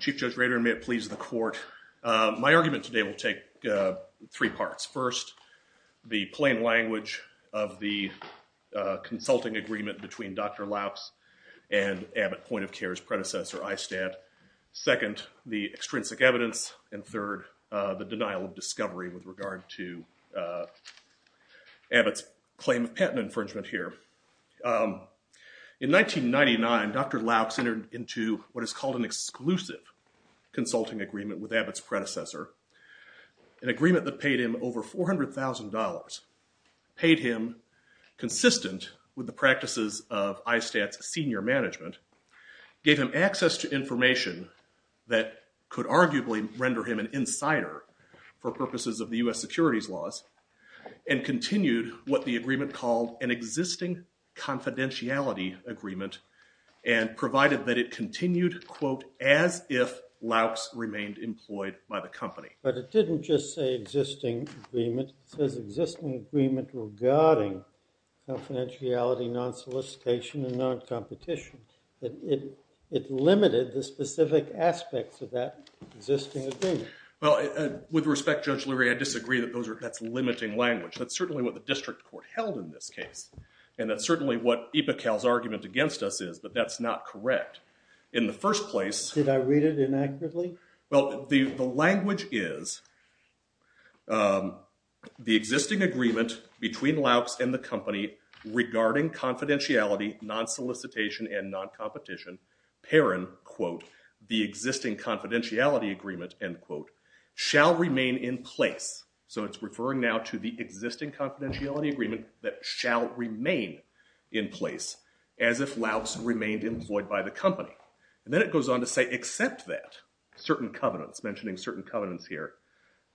Chief Judge Rader, and may it please the court, my argument today will take three parts. First, the plain language of the consulting agreement between Dr. Laux and Abbott Point of Care's predecessor, ISTAT. Second, the extrinsic evidence. And third, the denial of discovery with regard to Abbott's claim of patent infringement here. In 1999, Dr. Laux entered into what is called an exclusive consulting agreement with Abbott's predecessor, an agreement that paid him over $400,000, paid him consistent with the practices of ISTAT's senior management, gave him access to information that could arguably render him an insider for purposes of the U.S. securities laws, and continued what the agreement called an existing confidentiality agreement and provided that it continued, quote, as if Laux remained employed by the company. But it didn't just say existing agreement. It says existing agreement regarding confidentiality, non-solicitation, and non-competition. It limited the specific aspects of that existing agreement. Well, with respect, Judge Lurie, I disagree that that's limiting language. That's certainly what the district court held in this case. And that's certainly what Ipical's argument against us is. But that's not correct. In the first place, Did I read it inaccurately? Well, the language is, the existing agreement between Laux and the company regarding confidentiality, non-solicitation, and non-competition, paren, quote, the existing confidentiality agreement, end quote, shall remain in place. So it's referring now to the existing confidentiality agreement that shall remain in place as if Laux remained employed by the company. And then it goes on to say, except that certain covenants, mentioning certain covenants here,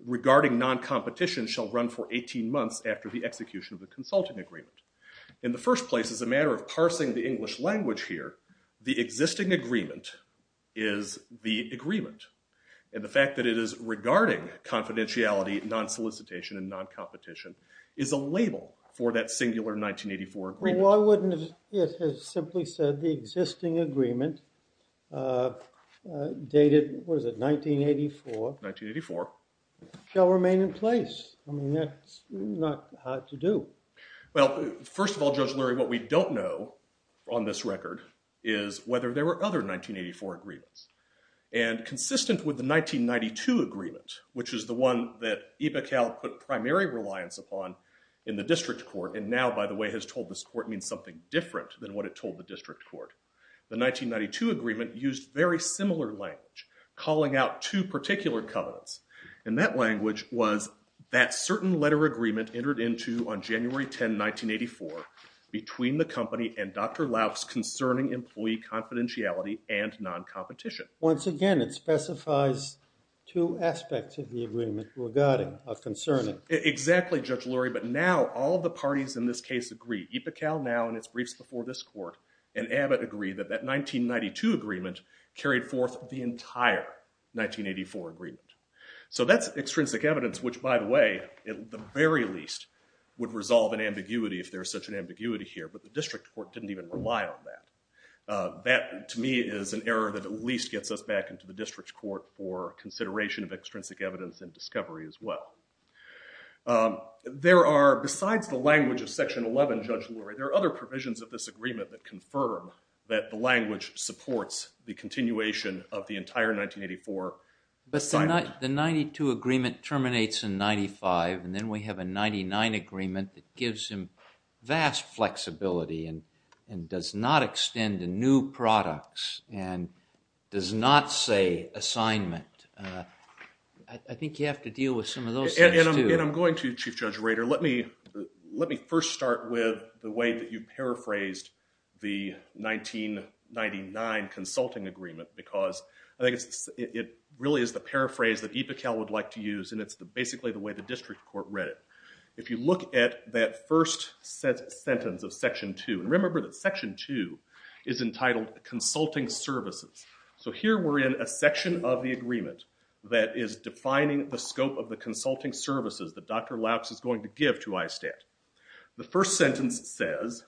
regarding non-competition shall run for 18 months after the execution of the consulting agreement. In the first place, as a matter of parsing the English language here, the existing agreement is the agreement. And the fact that it is regarding confidentiality, non-solicitation, and non-competition is a label for that singular 1984 agreement. Well, why wouldn't it have simply said, the existing agreement dated, what is it, 1984? 1984. Shall remain in place. I mean, that's not hard to do. Well, first of all, Judge Lurie, what we don't know on this record is whether there were other 1984 agreements. And consistent with the 1992 agreement, which is the one that Ibekal put primary reliance upon in the district court, and now, by the way, has told this court means something different than what it told the district court, the 1992 agreement used very similar language, calling out two particular covenants. And that language was, that certain letter agreement entered into on January 10, 1984, between the company and Dr. Lauch's concerning employee confidentiality and non-competition. Once again, it specifies two aspects of the agreement regarding, or concerning. Exactly, Judge Lurie. But now, all the parties in this case agree. Ibekal now, in its briefs before this court, and Abbott agree that that 1992 agreement carried forth the entire 1984 agreement. So that's extrinsic evidence, which, by the way, at the very least, would resolve an ambiguity if there is such an ambiguity here. But the district court didn't even rely on that. That, to me, is an error that at least gets us back into the district court for consideration of extrinsic evidence and discovery as well. There are, besides the language of section 11, Judge Lurie, there are other provisions of this agreement that confirm that the language supports the continuation of the entire 1984 silent. But the 92 agreement terminates in 95, and then we have a 99 agreement that gives him vast flexibility and does not extend to new products and does not say assignment. I think you have to deal with some of those things, too. And I'm going to, Chief Judge Rader. Let me first start with the way that you paraphrased the 1999 consulting agreement, because I think it really is the paraphrase that Ibekal would like to use, and it's basically the way the district court read it. If you look at that first sentence of section 2, and remember that section 2 is entitled consulting services. So here we're in a section of the agreement that is defining the scope of the consulting services that Dr. Lautz is going to give to ISTAT. The first sentence says,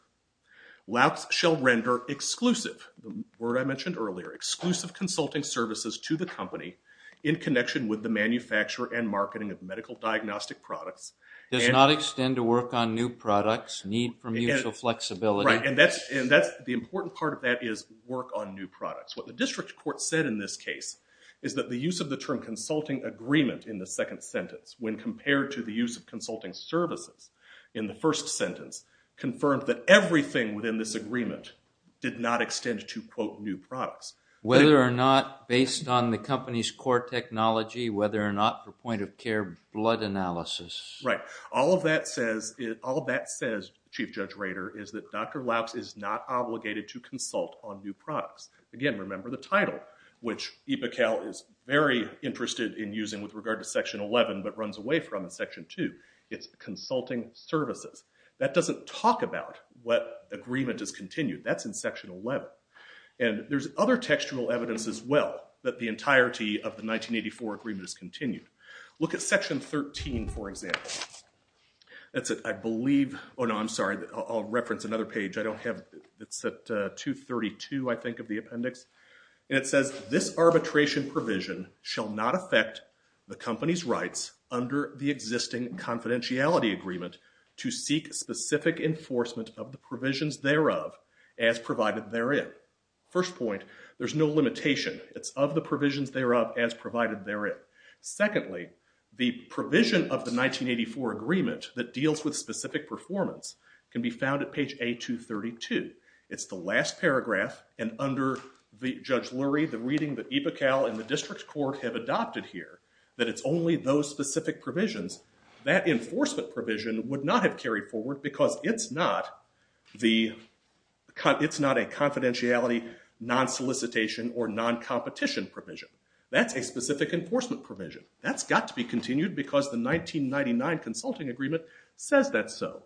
Lautz shall render exclusive, the word I mentioned earlier, exclusive consulting services to the company in connection with the manufacture and marketing of medical diagnostic products. Does not extend to work on new products, need for mutual flexibility. Right, and the important part of that is work on new products. What the district court said in this case is that the use of the term consulting agreement in the second sentence when compared to the use of consulting services in the first sentence confirmed that everything within this agreement did not extend to, quote, new products. Whether or not based on the company's core technology, whether or not the point of care blood analysis. Right. All of that says, all of that says, Chief Judge Rader, is that Dr. Lautz is not obligated to consult on new products. Again, remember the title, which IPA-Cal is very interested in using with regard to section 11 but runs away from in section 2. It's consulting services. That doesn't talk about what agreement is continued. That's in section 11. And there's other textual evidence as well that the entirety of the 1984 agreement is continued. Look at section 13, for example. That's it. I believe, oh no, I'm sorry. I'll reference another page. I don't have, it's at 232, I think, of the appendix. And it says, this arbitration provision shall not affect the company's rights under the existing confidentiality agreement to seek specific enforcement of the provisions thereof as provided therein. First point, there's no limitation. It's of the provisions thereof as provided therein. Secondly, the provision of the 1984 agreement that deals with specific performance can be found at page A232. It's the last paragraph, and under Judge Lurie, the reading that IPA-Cal and the district court have adopted here, that it's only those specific provisions. That enforcement provision would not have carried forward because it's not the, it's not a confidentiality non-solicitation or non-competition provision. That's a specific enforcement provision. That's got to be continued because the 1999 consulting agreement says that's so.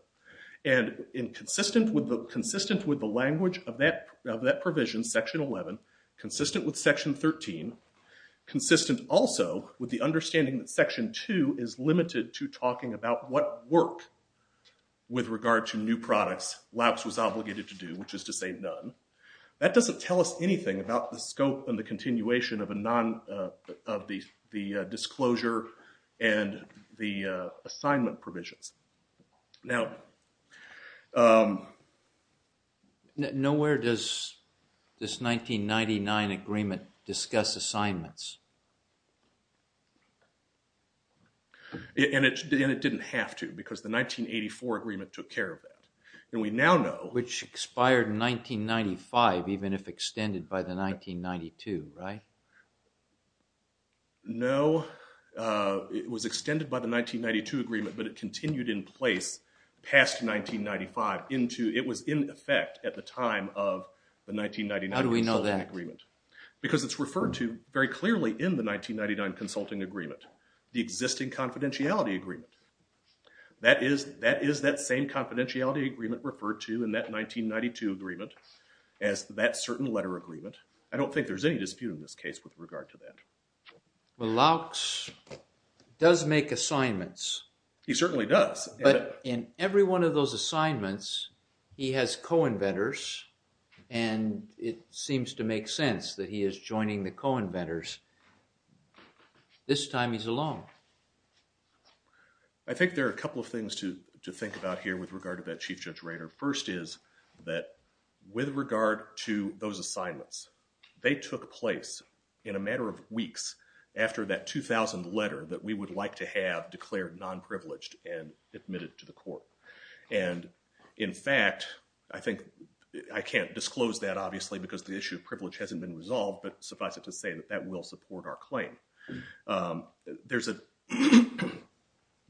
And consistent with the language of that provision, section 11, consistent with section 13, consistent also with the understanding that section 2 is limited to talking about what work, with regard to new products, LAUCs was obligated to do, which is to say none. That doesn't tell us anything about the scope and the continuation of a non, of the disclosure and the assignment provisions. Now, nowhere does this 1999 agreement discuss assignments, and it didn't have to because the 1984 agreement took care of that. And we now know- Which expired in 1995, even if extended by the 1992, right? No, it was extended by the 1992 agreement, but it continued in place past 1995 into, it was in effect at the time of the 1999 consulting agreement. How do we know that? Because it's referred to very clearly in the 1999 consulting agreement, the existing confidentiality agreement. That is that same confidentiality agreement referred to in that 1992 agreement as that certain letter agreement. I don't think there's any dispute in this case with regard to that. Well, LAUCs does make assignments. He certainly does. But in every one of those assignments, he has co-inventors, and it seems to make sense that he is joining the co-inventors. This time, he's alone. I think there are a couple of things to think about here with regard to that Chief Judge Rader. First is that with regard to those assignments, they took place in a matter of weeks after that 2000 letter that we would like to have declared non-privileged and admitted to the court. And in fact, I think, I can't disclose that obviously because the issue of privilege hasn't been resolved. But suffice it to say that that will support our claim. There's a,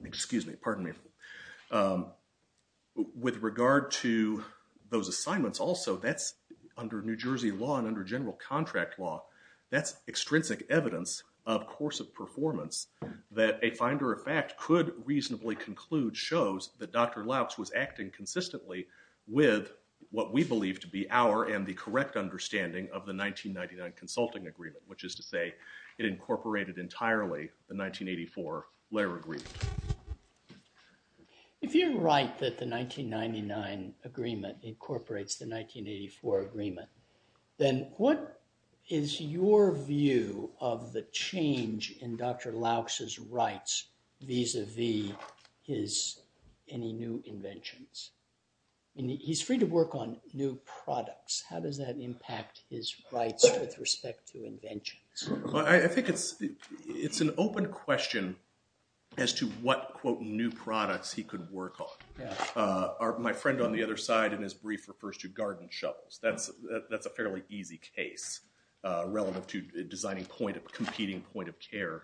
excuse me, pardon me. With regard to those assignments also, that's under New Jersey law and under general contract law. That's extrinsic evidence of course of performance that a finder of fact could reasonably conclude shows that Dr. LAUCs was acting consistently with what we believe to be our and the correct understanding of the 1999 consulting agreement, which is to say, it incorporated entirely the 1984 letter agreement. If you're right that the 1999 agreement incorporates the 1984 agreement, then what is your view of the change in Dr. LAUCs' rights vis-a-vis his, any new inventions? He's free to work on new products. How does that impact his rights with respect to inventions? I think it's an open question as to what, quote, new products he could work on. My friend on the other side in his brief refers to garden shovels. That's a fairly easy case relative to designing point of competing point of care,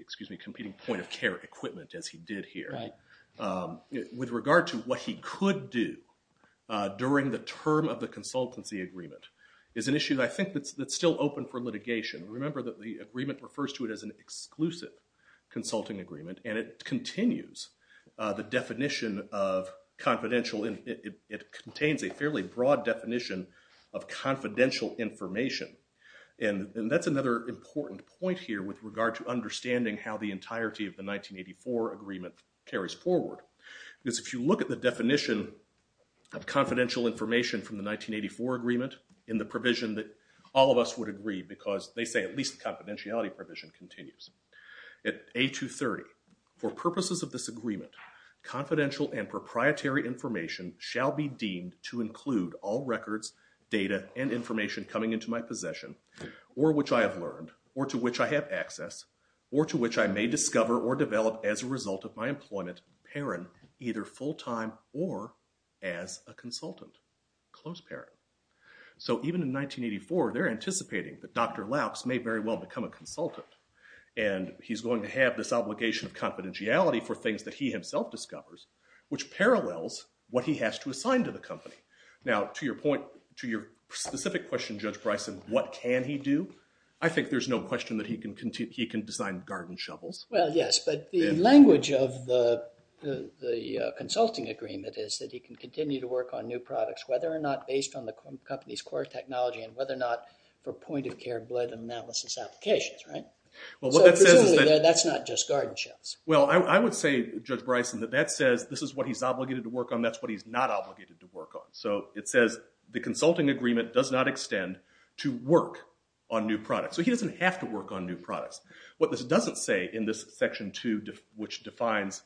excuse me, competing point of care equipment as he did here. With regard to what he could do during the term of the consultancy agreement is an issue that I think that's still open for litigation. Remember that the agreement refers to it as an exclusive consulting agreement and it continues the definition of confidential, it contains a fairly broad definition of confidential information. And that's another important point here with regard to understanding how the entirety of the 1984 agreement carries forward. Because if you look at the definition of confidential information from the 1984 agreement in the provision that all of us would agree because they say at least the confidentiality provision continues. At A230, for purposes of this agreement, confidential and proprietary information shall be deemed to include all records, data, and information coming into my possession or which I have earned or to which I have access or to which I may discover or develop as a result of my employment parent either full-time or as a consultant, close parent. So even in 1984, they're anticipating that Dr. Laux may very well become a consultant and he's going to have this obligation of confidentiality for things that he himself discovers which parallels what he has to assign to the company. Now to your point, to your specific question, Judge Bryson, what can he do? I think there's no question that he can design garden shovels. Well, yes. But the language of the consulting agreement is that he can continue to work on new products whether or not based on the company's core technology and whether or not for point-of-care blood analysis applications, right? Well, what that says is that… So presumably, that's not just garden shovels. Well, I would say, Judge Bryson, that that says this is what he's obligated to work on. That's what he's not obligated to work on. So it says the consulting agreement does not extend to work on new products. So he doesn't have to work on new products. What this doesn't say in this section 2 which defines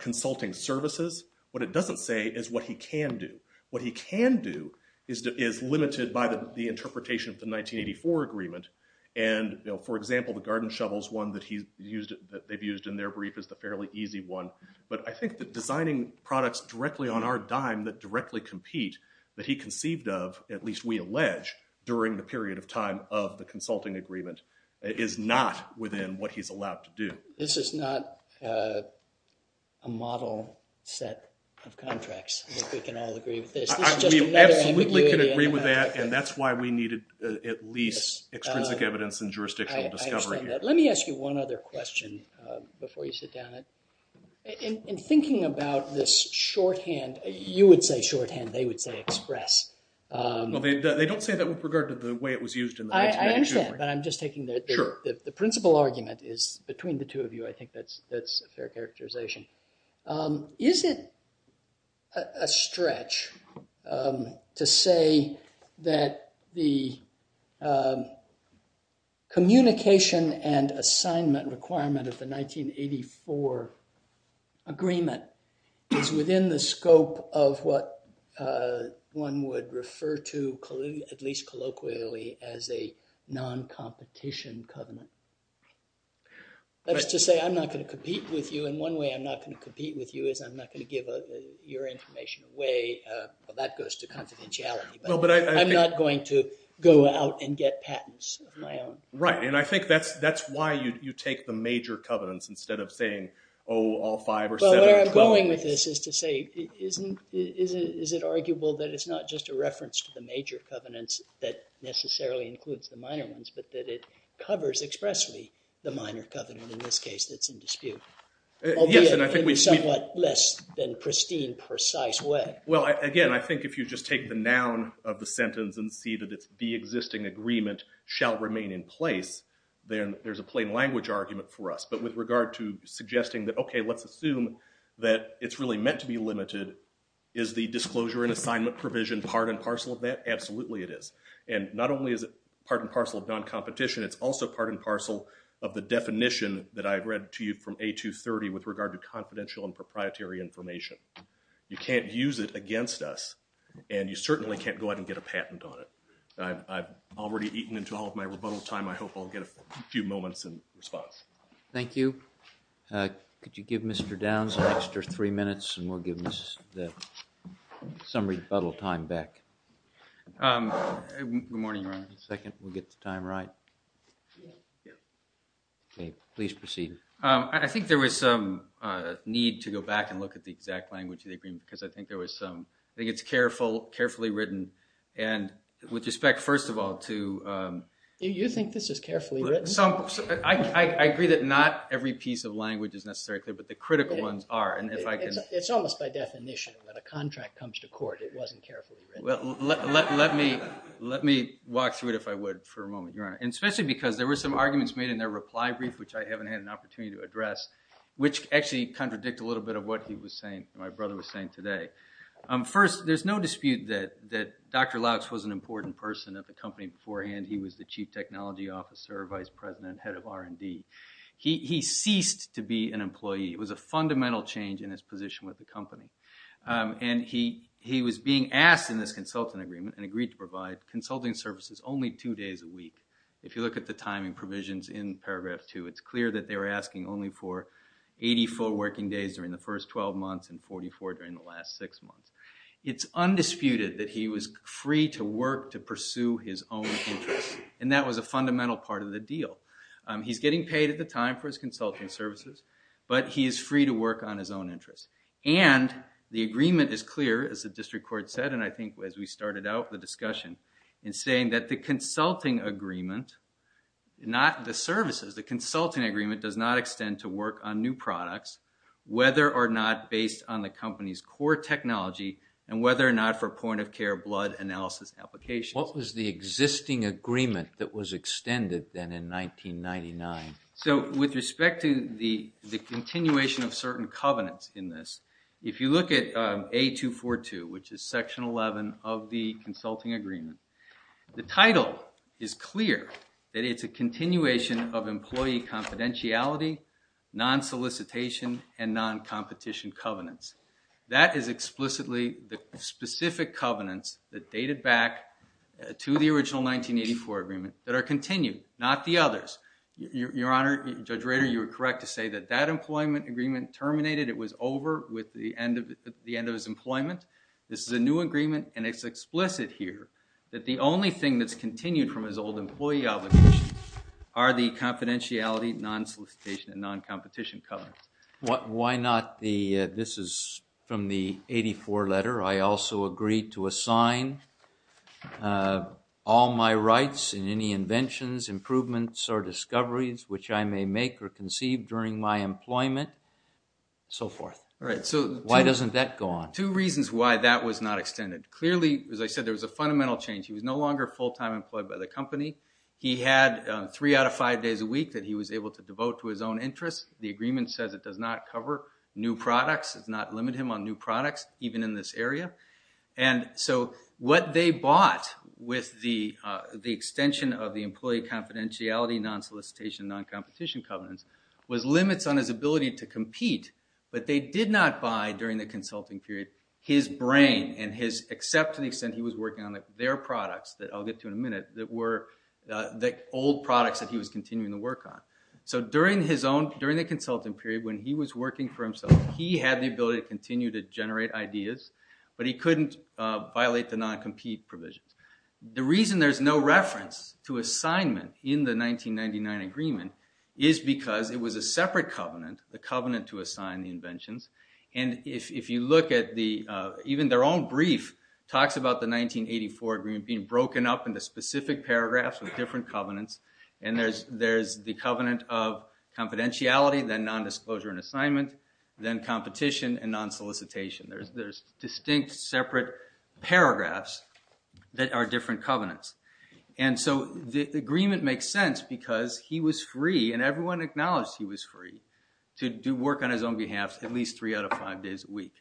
consulting services, what it doesn't say is what he can do. What he can do is limited by the interpretation of the 1984 agreement and, you know, for example, the garden shovels one that they've used in their brief is the fairly easy one. But I think that designing products directly on our dime that directly compete that he conceived of, at least we allege, during the period of time of the consulting agreement is not within what he's allowed to do. This is not a model set of contracts that we can all agree with this. We absolutely can agree with that and that's why we needed at least extrinsic evidence and jurisdictional discovery. Let me ask you one other question before you sit down. In thinking about this shorthand, you would say shorthand, they would say express. Well, they don't say that with regard to the way it was used in the 1982 agreement. I understand, but I'm just taking the principle argument is between the two of you, I think that's a fair characterization. Is it a stretch to say that the communication and assignment requirement of the 1984 agreement is within the scope of what one would refer to at least colloquially as a non-competition covenant? That's to say I'm not going to compete with you, and one way I'm not going to compete with you is I'm not going to give your information away, that goes to confidentiality, but I'm not going to go out and get patents of my own. Right, and I think that's why you take the major covenants instead of saying, oh, all five or seven or twelve. Well, where I'm going with this is to say, is it arguable that it's not just a reference to the major covenants that necessarily includes the minor ones, but that it covers expressly the minor covenant, in this case, that's in dispute, albeit in a somewhat less than pristine, precise way? Well, again, I think if you just take the noun of the sentence and see that it's the existing agreement shall remain in place, then there's a plain language argument for us. But with regard to suggesting that, OK, let's assume that it's really meant to be limited, is the disclosure and assignment provision part and parcel of that? Absolutely it is. And not only is it part and parcel of non-competition, it's also part and parcel of the definition that I read to you from A230 with regard to confidential and proprietary information. You can't use it against us, and you certainly can't go out and get a patent on it. I've already eaten into all of my rebuttal time, I hope I'll get a few moments in response. Thank you. Could you give Mr. Downs an extra three minutes, and we'll give the summary rebuttal time back. Good morning, Your Honor. Just a second, we'll get the time right. OK, please proceed. I think there was some need to go back and look at the exact language of the agreement, because I think it's carefully written, and with respect, first of all, to— You think this is carefully written? I agree that not every piece of language is necessarily clear, but the critical ones are. It's almost by definition. When a contract comes to court, it wasn't carefully written. Let me walk through it, if I would, for a moment, Your Honor. Especially because there were some arguments made in their reply brief, which I haven't had an opportunity to address, which actually contradict a little bit of what my brother was saying today. First, there's no dispute that Dr. Laux was an important person at the company beforehand. He was the chief technology officer, vice president, head of R&D. He ceased to be an employee. It was a fundamental change in his position with the company. And he was being asked in this consultant agreement and agreed to provide consulting services only two days a week. If you look at the timing provisions in paragraph two, it's clear that they were asking only for 84 working days during the first 12 months and 44 during the last six months. It's undisputed that he was free to work to pursue his own interests, and that was a fundamental part of the deal. He's getting paid at the time for his consulting services, but he is free to work on his own interests. And the agreement is clear, as the district court said, and I think as we started out the discussion, in saying that the consulting agreement, not the services, the consulting agreement, does not extend to work on new products, whether or not based on the company's core technology and whether or not for point-of-care blood analysis applications. What was the existing agreement that was extended then in 1999? So, with respect to the continuation of certain covenants in this, if you look at A242, which is section 11 of the consulting agreement, the title is clear that it's a continuation of employee confidentiality, non-solicitation, and non-competition covenants. That is explicitly the specific covenants that dated back to the original 1984 agreement that are continued, not the others. Your Honor, Judge Rader, you are correct to say that that employment agreement terminated, it was over with the end of his employment. This is a new agreement, and it's explicit here, that the only thing that's continued from his old employee obligation are the confidentiality, non-solicitation, and non-competition covenants. Why not the, this is from the 84 letter, I also agree to assign all my rights in any inventions, improvements, or discoveries, which I may make or conceive during my employment, so forth. Why doesn't that go on? Two reasons why that was not extended. Clearly, as I said, there was a fundamental change. He was no longer full-time employed by the company. He had three out of five days a week that he was able to devote to his own interests. The agreement says it does not cover new products, does not limit him on new products, even in this area. And so what they bought with the extension of the employee confidentiality, non-solicitation, and non-competition covenants, was limits on his ability to compete, but they did not buy during the consulting period his brain and his, except to the extent he was working on their products that I'll get to in a minute, that were the old products that he was continuing to work on. So during his own, during the consulting period, when he was working for himself, he had the ability to continue to generate ideas, but he couldn't violate the non-compete provisions. The reason there's no reference to assignment in the 1999 agreement is because it was a separate covenant, the covenant to assign the inventions. And if you look at the, even their own brief talks about the 1984 agreement being broken up into specific paragraphs with different covenants. And there's the covenant of confidentiality, then non-disclosure and assignment, then competition and non-solicitation. There's distinct separate paragraphs that are different covenants. And so the agreement makes sense because he was free, and everyone acknowledged he was free, to do work on his own behalf at least three out of five days a week.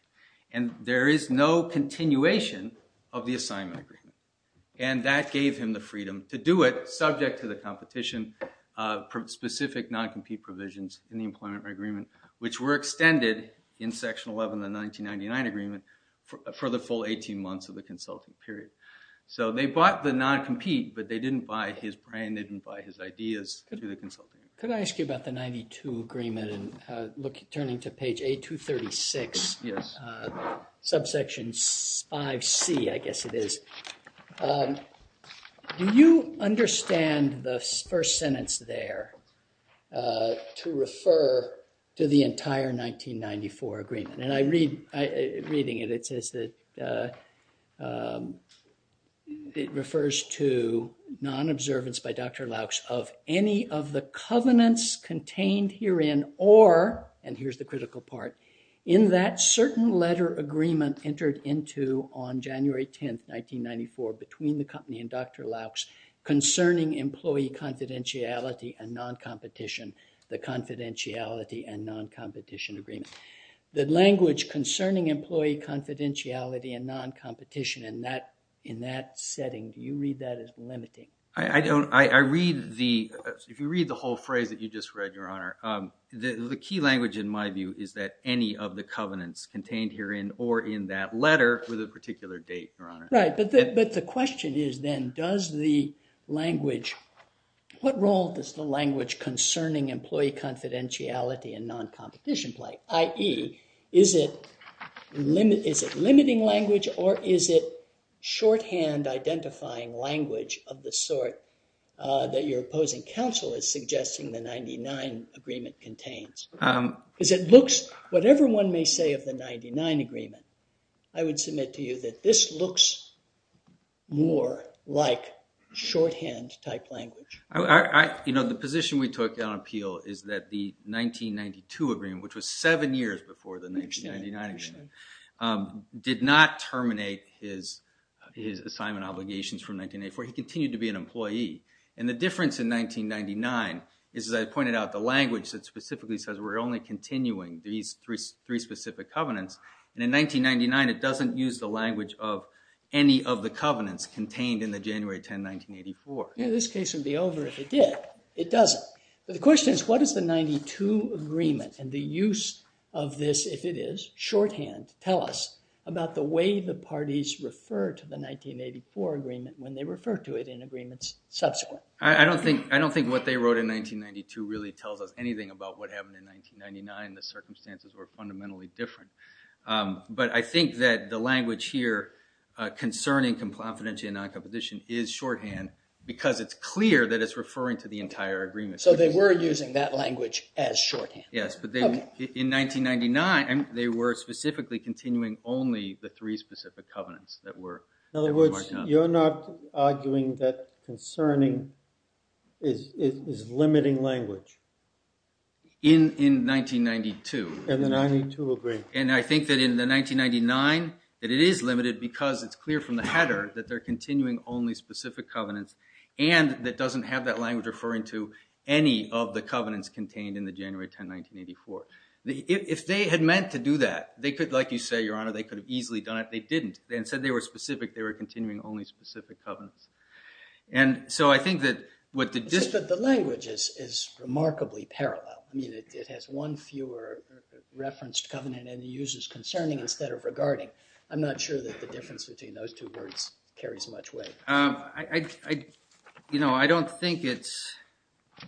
And there is no continuation of the assignment agreement. And that gave him the freedom to do it, subject to the competition, from specific non-compete provisions in the employment agreement, which were extended in section 11 of the 1999 agreement for the full 18 months of the consulting period. So they bought the non-compete, but they didn't buy his brand, they didn't buy his ideas to do the consulting. Could I ask you about the 92 agreement? And turning to page A236, subsection 5C, I guess it is. Do you understand the first sentence there to refer to the entire 1994 agreement? And reading it, it says that it refers to non-observance by Dr. Laux of any of the covenants contained herein or, and here's the critical part, in that certain letter agreement entered into on January 10, 1994, between the company and Dr. Laux, concerning employee confidentiality and non-competition, the confidentiality and non-competition agreement. The language concerning employee confidentiality and non-competition in that setting, do you read that as limiting? I don't, I read the, if you read the whole phrase that you just read, your honor, the key language in my view is that any of the covenants contained herein or in that letter with a particular date, your honor. Right, but the question is then, does the language, what role does the language concerning employee confidentiality and non-competition play, i.e., is it limiting language or is it shorthand identifying language of the sort that your opposing counsel is suggesting the 99 agreement contains? Because it looks, whatever one may say of the 99 agreement, I would submit to you that this looks more like shorthand type language. You know, the position we took on appeal is that the 1992 agreement, which was seven years before the 1999 agreement, did not terminate his assignment obligations from 1984. He continued to be an employee. And the difference in 1999 is, as I pointed out, the language that specifically says we're only continuing these three specific covenants, and in 1999 it doesn't use the language of any of the covenants contained in the January 10, 1984. Yeah, this case would be over if it did. It doesn't. But the question is, what does the 92 agreement and the use of this, if it is shorthand, tell us about the way the parties refer to the 1984 agreement when they refer to it in agreements subsequent? I don't think what they wrote in 1992 really tells us anything about what happened in 1999. The circumstances were fundamentally different. But I think that the language here concerning confidentiality in addition is shorthand because it's clear that it's referring to the entire agreement. So they were using that language as shorthand. Yes. But in 1999 they were specifically continuing only the three specific covenants that were marked out. In other words, you're not arguing that concerning is limiting language. In 1992. And the 92 agreement. And I think that in the 1999 that it is limited because it's clear from the header that they're continuing only specific covenants and that doesn't have that language referring to any of the covenants contained in the January 10, 1984. If they had meant to do that, they could, like you say, Your Honor, they could have easily done it. They didn't. Instead, they were specific. They were continuing only specific covenants. And so I think that what the dis- But the language is remarkably parallel. I mean, it has one fewer referenced covenant and uses concerning instead of regarding. I'm not sure that the difference between those two words carries much weight. You know, I don't think it's –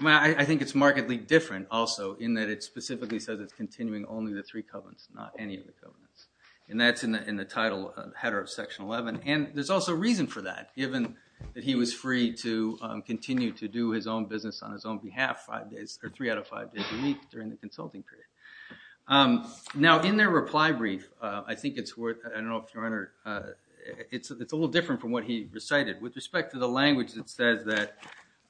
I mean, I think it's markedly different also in that it specifically says it's continuing only the three covenants, not any of the covenants. And that's in the title header of Section 11. And there's also a reason for that, given that he was free to continue to do his own business on his own behalf three out of five days a week during the consulting period. Now, in their reply brief, I think it's worth – I don't know if, Your Honor, it's a little different from what he recited. With respect to the language that says that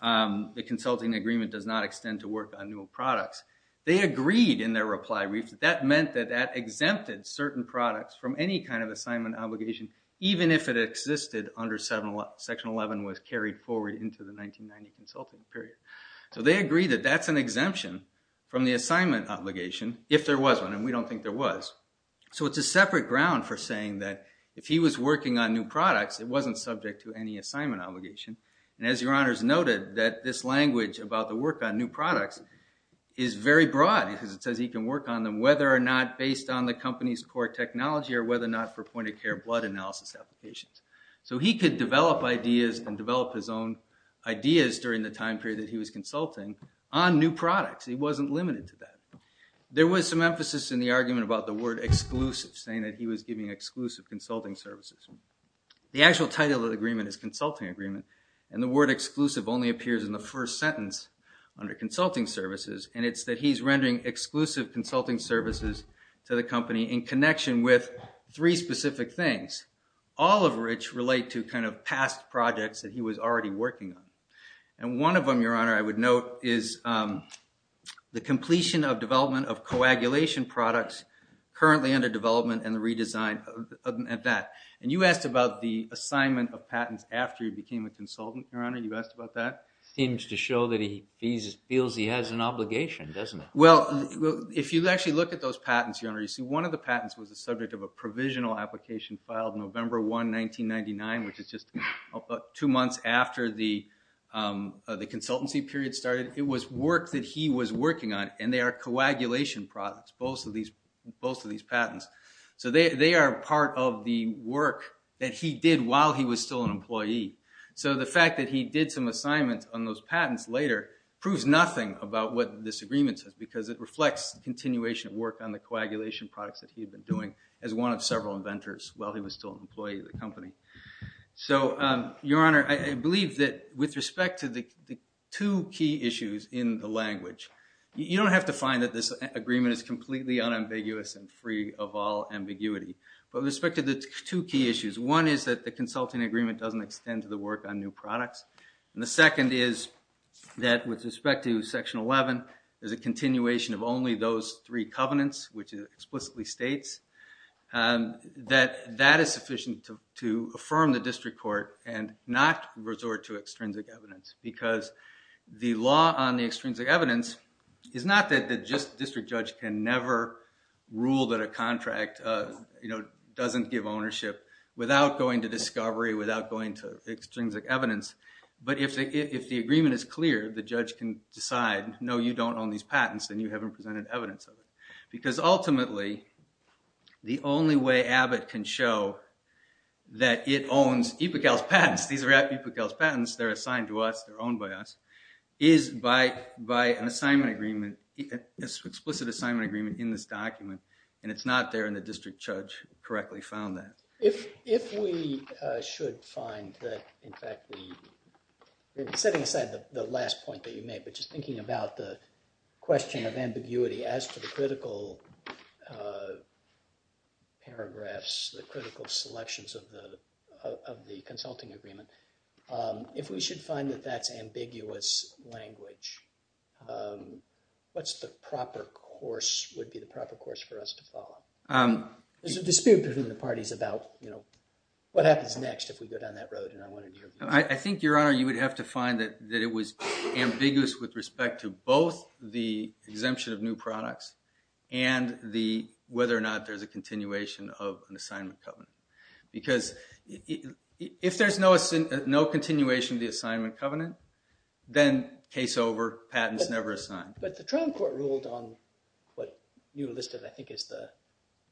the consulting agreement does not extend to work on new products, they agreed in their reply brief that that meant that that exempted certain products from any kind of assignment obligation, even if it existed under – Section 11 was carried forward into the 1990 consulting period. So they agreed that that's an exemption from the assignment obligation if there was one, and we don't think there was. So it's a separate ground for saying that if he was working on new products, it wasn't subject to any assignment obligation. And as Your Honor's noted, that this language about the work on new products is very broad because it says he can work on them whether or not based on the company's core technology or whether or not for point-of-care blood analysis applications. So he could develop ideas and develop his own ideas during the time period that he was consulting on new products. He wasn't limited to that. There was some emphasis in the argument about the word exclusive, saying that he was giving exclusive consulting services. The actual title of the agreement is consulting agreement, and the word exclusive only appears in the first sentence under consulting services, and it's that he's rendering exclusive consulting services to the company in connection with three specific things, all of which relate to kind of past projects that he was already working on. And one of them, Your Honor, I would note is the completion of development of coagulation products currently under development and the redesign of that. And you asked about the assignment of patents after he became a consultant, Your Honor. You asked about that? Seems to show that he feels he has an obligation, doesn't he? Well, if you actually look at those patents, Your Honor, you see one of the patents was the subject of a provisional application filed November 1, 1999, which is just two months after the consultancy period started. It was work that he was working on, and they are coagulation products, both of these patents. So they are part of the work that he did while he was still an employee. So the fact that he did some assignments on those patents later proves nothing about what this agreement says because it reflects continuation of work on the coagulation products that he had been doing as one of several inventors while he was still an employee of the company. So, Your Honor, I believe that with respect to the two key issues in the language, you don't have to find that this agreement is completely unambiguous and free of all ambiguity. But with respect to the two key issues, one is that the consulting agreement doesn't extend to the work on new products, and the second is that with respect to Section 11, there's a continuation of only those three covenants, which it explicitly states, that that is sufficient to affirm the district court and not resort to extrinsic evidence. Because the law on the extrinsic evidence is not that the district judge can never rule that a contract doesn't give ownership without going to discovery, without going to extrinsic evidence. But if the agreement is clear, the judge can decide, no, you don't own these patents, then you haven't presented evidence of it. Because ultimately, the only way Abbott can show that it owns EPCAL's patents, these are EPCAL's patents, they're assigned to us, they're owned by us, is by an assignment agreement, explicit assignment agreement in this document, and it's not there in the district judge correctly found that. If we should find that, in fact, we... Setting aside the last point that you made, which is thinking about the question of ambiguity as to the critical paragraphs, the critical selections of the consulting agreement, if we should find that that's ambiguous language, what's the proper course, would be the proper course for us to follow? There's a dispute between the parties about, you know, what happens next if we go down that road and I want to... I think, Your Honor, you would have to find that it was ambiguous with respect to both the exemption of new products and whether or not there's a continuation of an assignment covenant. Because if there's no continuation of the assignment covenant, then case over, patents never assigned. But the trial court ruled on what you listed, I think, is the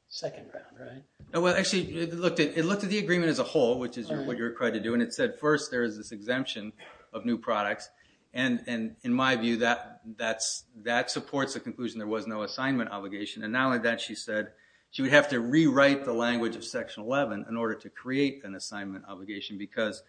second round, right? Well, actually, it looked at the agreement as a whole, which is what you're required to do. And it said, first, there is this exemption of new products. And in my view, that supports the conclusion there was no assignment obligation. And not only that, she said she would have to rewrite the language of Section 11 in order to create an assignment obligation, because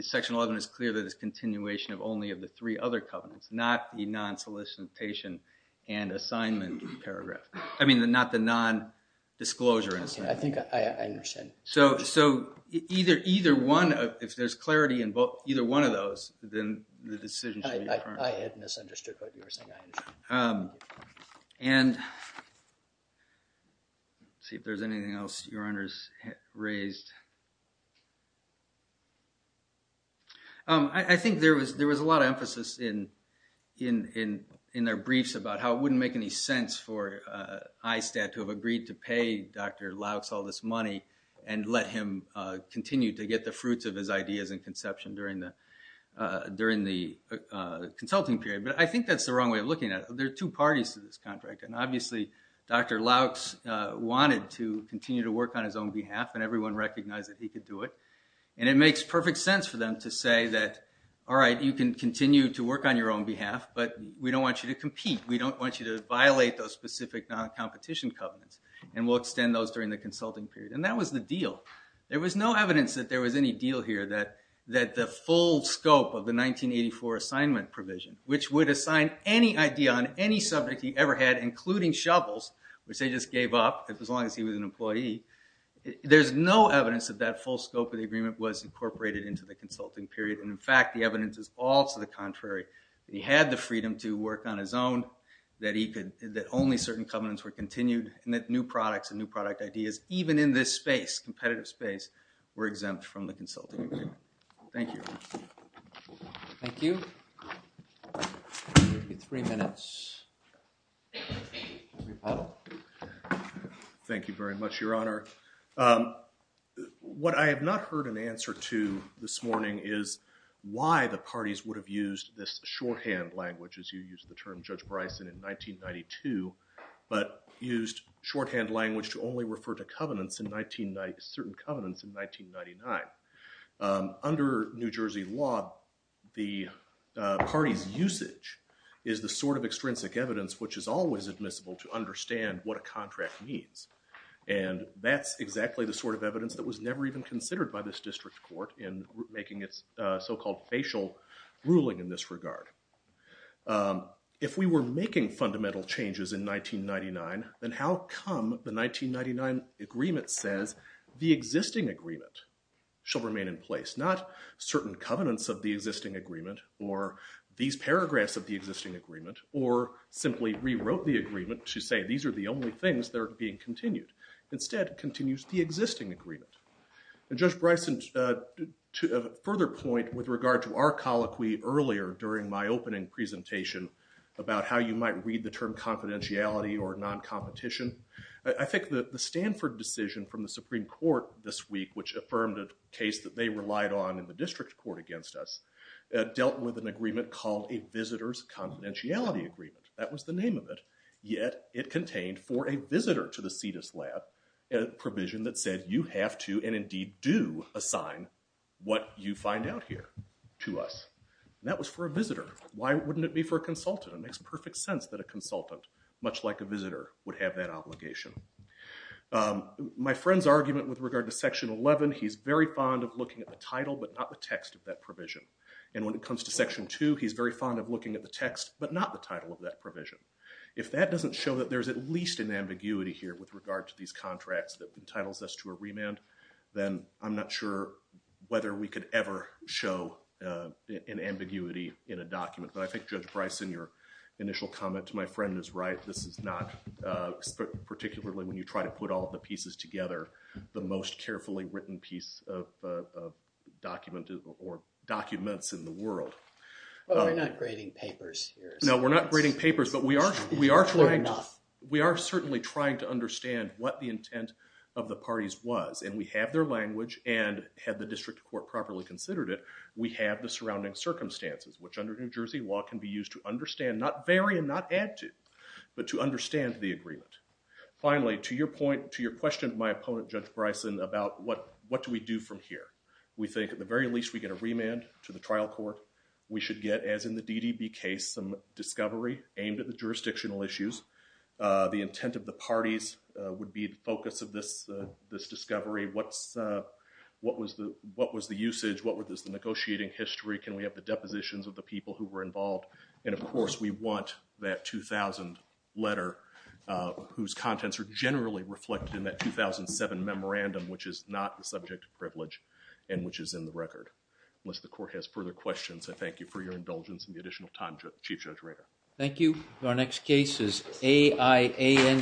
Section 11 is clear that it's continuation of only of the three other covenants, not the non-solicitation and assignment paragraph. I mean, not the non-disclosure and assignment. I think I understand. So either one, if there's clarity in either one of those, then the decision should be firm. I had misunderstood what you were saying, I understand. And let's see if there's anything else Your Honors raised. I think there was a lot of emphasis in their briefs about how it wouldn't make any sense for ISTAT to have agreed to pay Dr. Lauchs all this money and let him continue to get the fruits of his ideas and conception during the consulting period. But I think that's the wrong way of looking at it. There are two parties to this contract. And obviously, Dr. Lauchs wanted to continue to work on his own behalf, and everyone recognized that he could do it. And it makes perfect sense for them to say that, all right, you can continue to work on your own behalf, but we don't want you to compete. We don't want you to violate those specific non-competition covenants, and we'll extend those during the consulting period. And that was the deal. There was no evidence that there was any deal here that the full scope of the 1984 assignment provision, which would assign any idea on any subject he ever had, including shovels, which they just gave up as long as he was an employee, there's no evidence that that full scope of the agreement was incorporated into the consulting period. And, in fact, the evidence is all to the contrary. He had the freedom to work on his own, that only certain covenants were continued, and that new products and new product ideas, even in this space, competitive space, were exempt from the consulting agreement. Thank you. Thank you. You have three minutes. Thank you very much, Your Honor. What I have not heard an answer to this morning is why the parties would have used this shorthand language, as you used the term, Judge Bryson, in 1992, but used shorthand language to only refer to certain covenants in 1999. Under New Jersey law, the party's usage is the sort of extrinsic evidence which is always admissible to understand what a contract means. And that's exactly the sort of evidence that was never even considered by this ruling in this regard. If we were making fundamental changes in 1999, then how come the 1999 agreement says, the existing agreement shall remain in place, not certain covenants of the existing agreement, or these paragraphs of the existing agreement, or simply rewrote the agreement to say these are the only things that are being continued. Instead, it continues the existing agreement. And Judge Bryson, to a further point with regard to our colloquy earlier during my opening presentation about how you might read the term confidentiality or non-competition, I think that the Stanford decision from the Supreme Court this week, which affirmed a case that they relied on in the district court against us, dealt with an agreement called a visitor's confidentiality agreement. That was the name of it. Yet, it contained for a visitor to the Cetus Lab, a provision that said you have to, and indeed do, assign what you find out here to us. And that was for a visitor. Why wouldn't it be for a consultant? It makes perfect sense that a consultant, much like a visitor, would have that obligation. My friend's argument with regard to Section 11, he's very fond of looking at the title, but not the text of that provision. And when it comes to Section 2, he's very fond of looking at the text, but not the title of that provision. If that doesn't show that there's at least an ambiguity here with regard to these contracts that entitles us to a remand, then I'm not sure whether we could ever show an ambiguity in a document. But I think Judge Bryson, your initial comment to my friend is right. This is not, particularly when you try to put all the pieces together, the most carefully written piece of document or documents in the world. Well, we're not grading papers here. No, we're not grading papers. But we are trying to understand what the intent of the parties was. And we have their language. And had the district court properly considered it, we have the surrounding circumstances, which under New Jersey law can be used to understand, not vary and not add to, but to understand the agreement. Finally, to your question of my opponent, Judge Bryson, about what do we do from here. We think at the very least we get a remand to the trial court. We should get, as in the DDB case, some discovery aimed at the jurisdictional issues. The intent of the parties would be the focus of this discovery. What was the usage? What was the negotiating history? Can we have the depositions of the people who were involved? And, of course, we want that 2000 letter, whose contents are generally reflected in that 2007 memorandum, which is not the subject of privilege and which is in the record, unless the court has further questions. I thank you for your indulgence and the additional time, Chief Judge Rader. Thank you. Our next case is AIANG.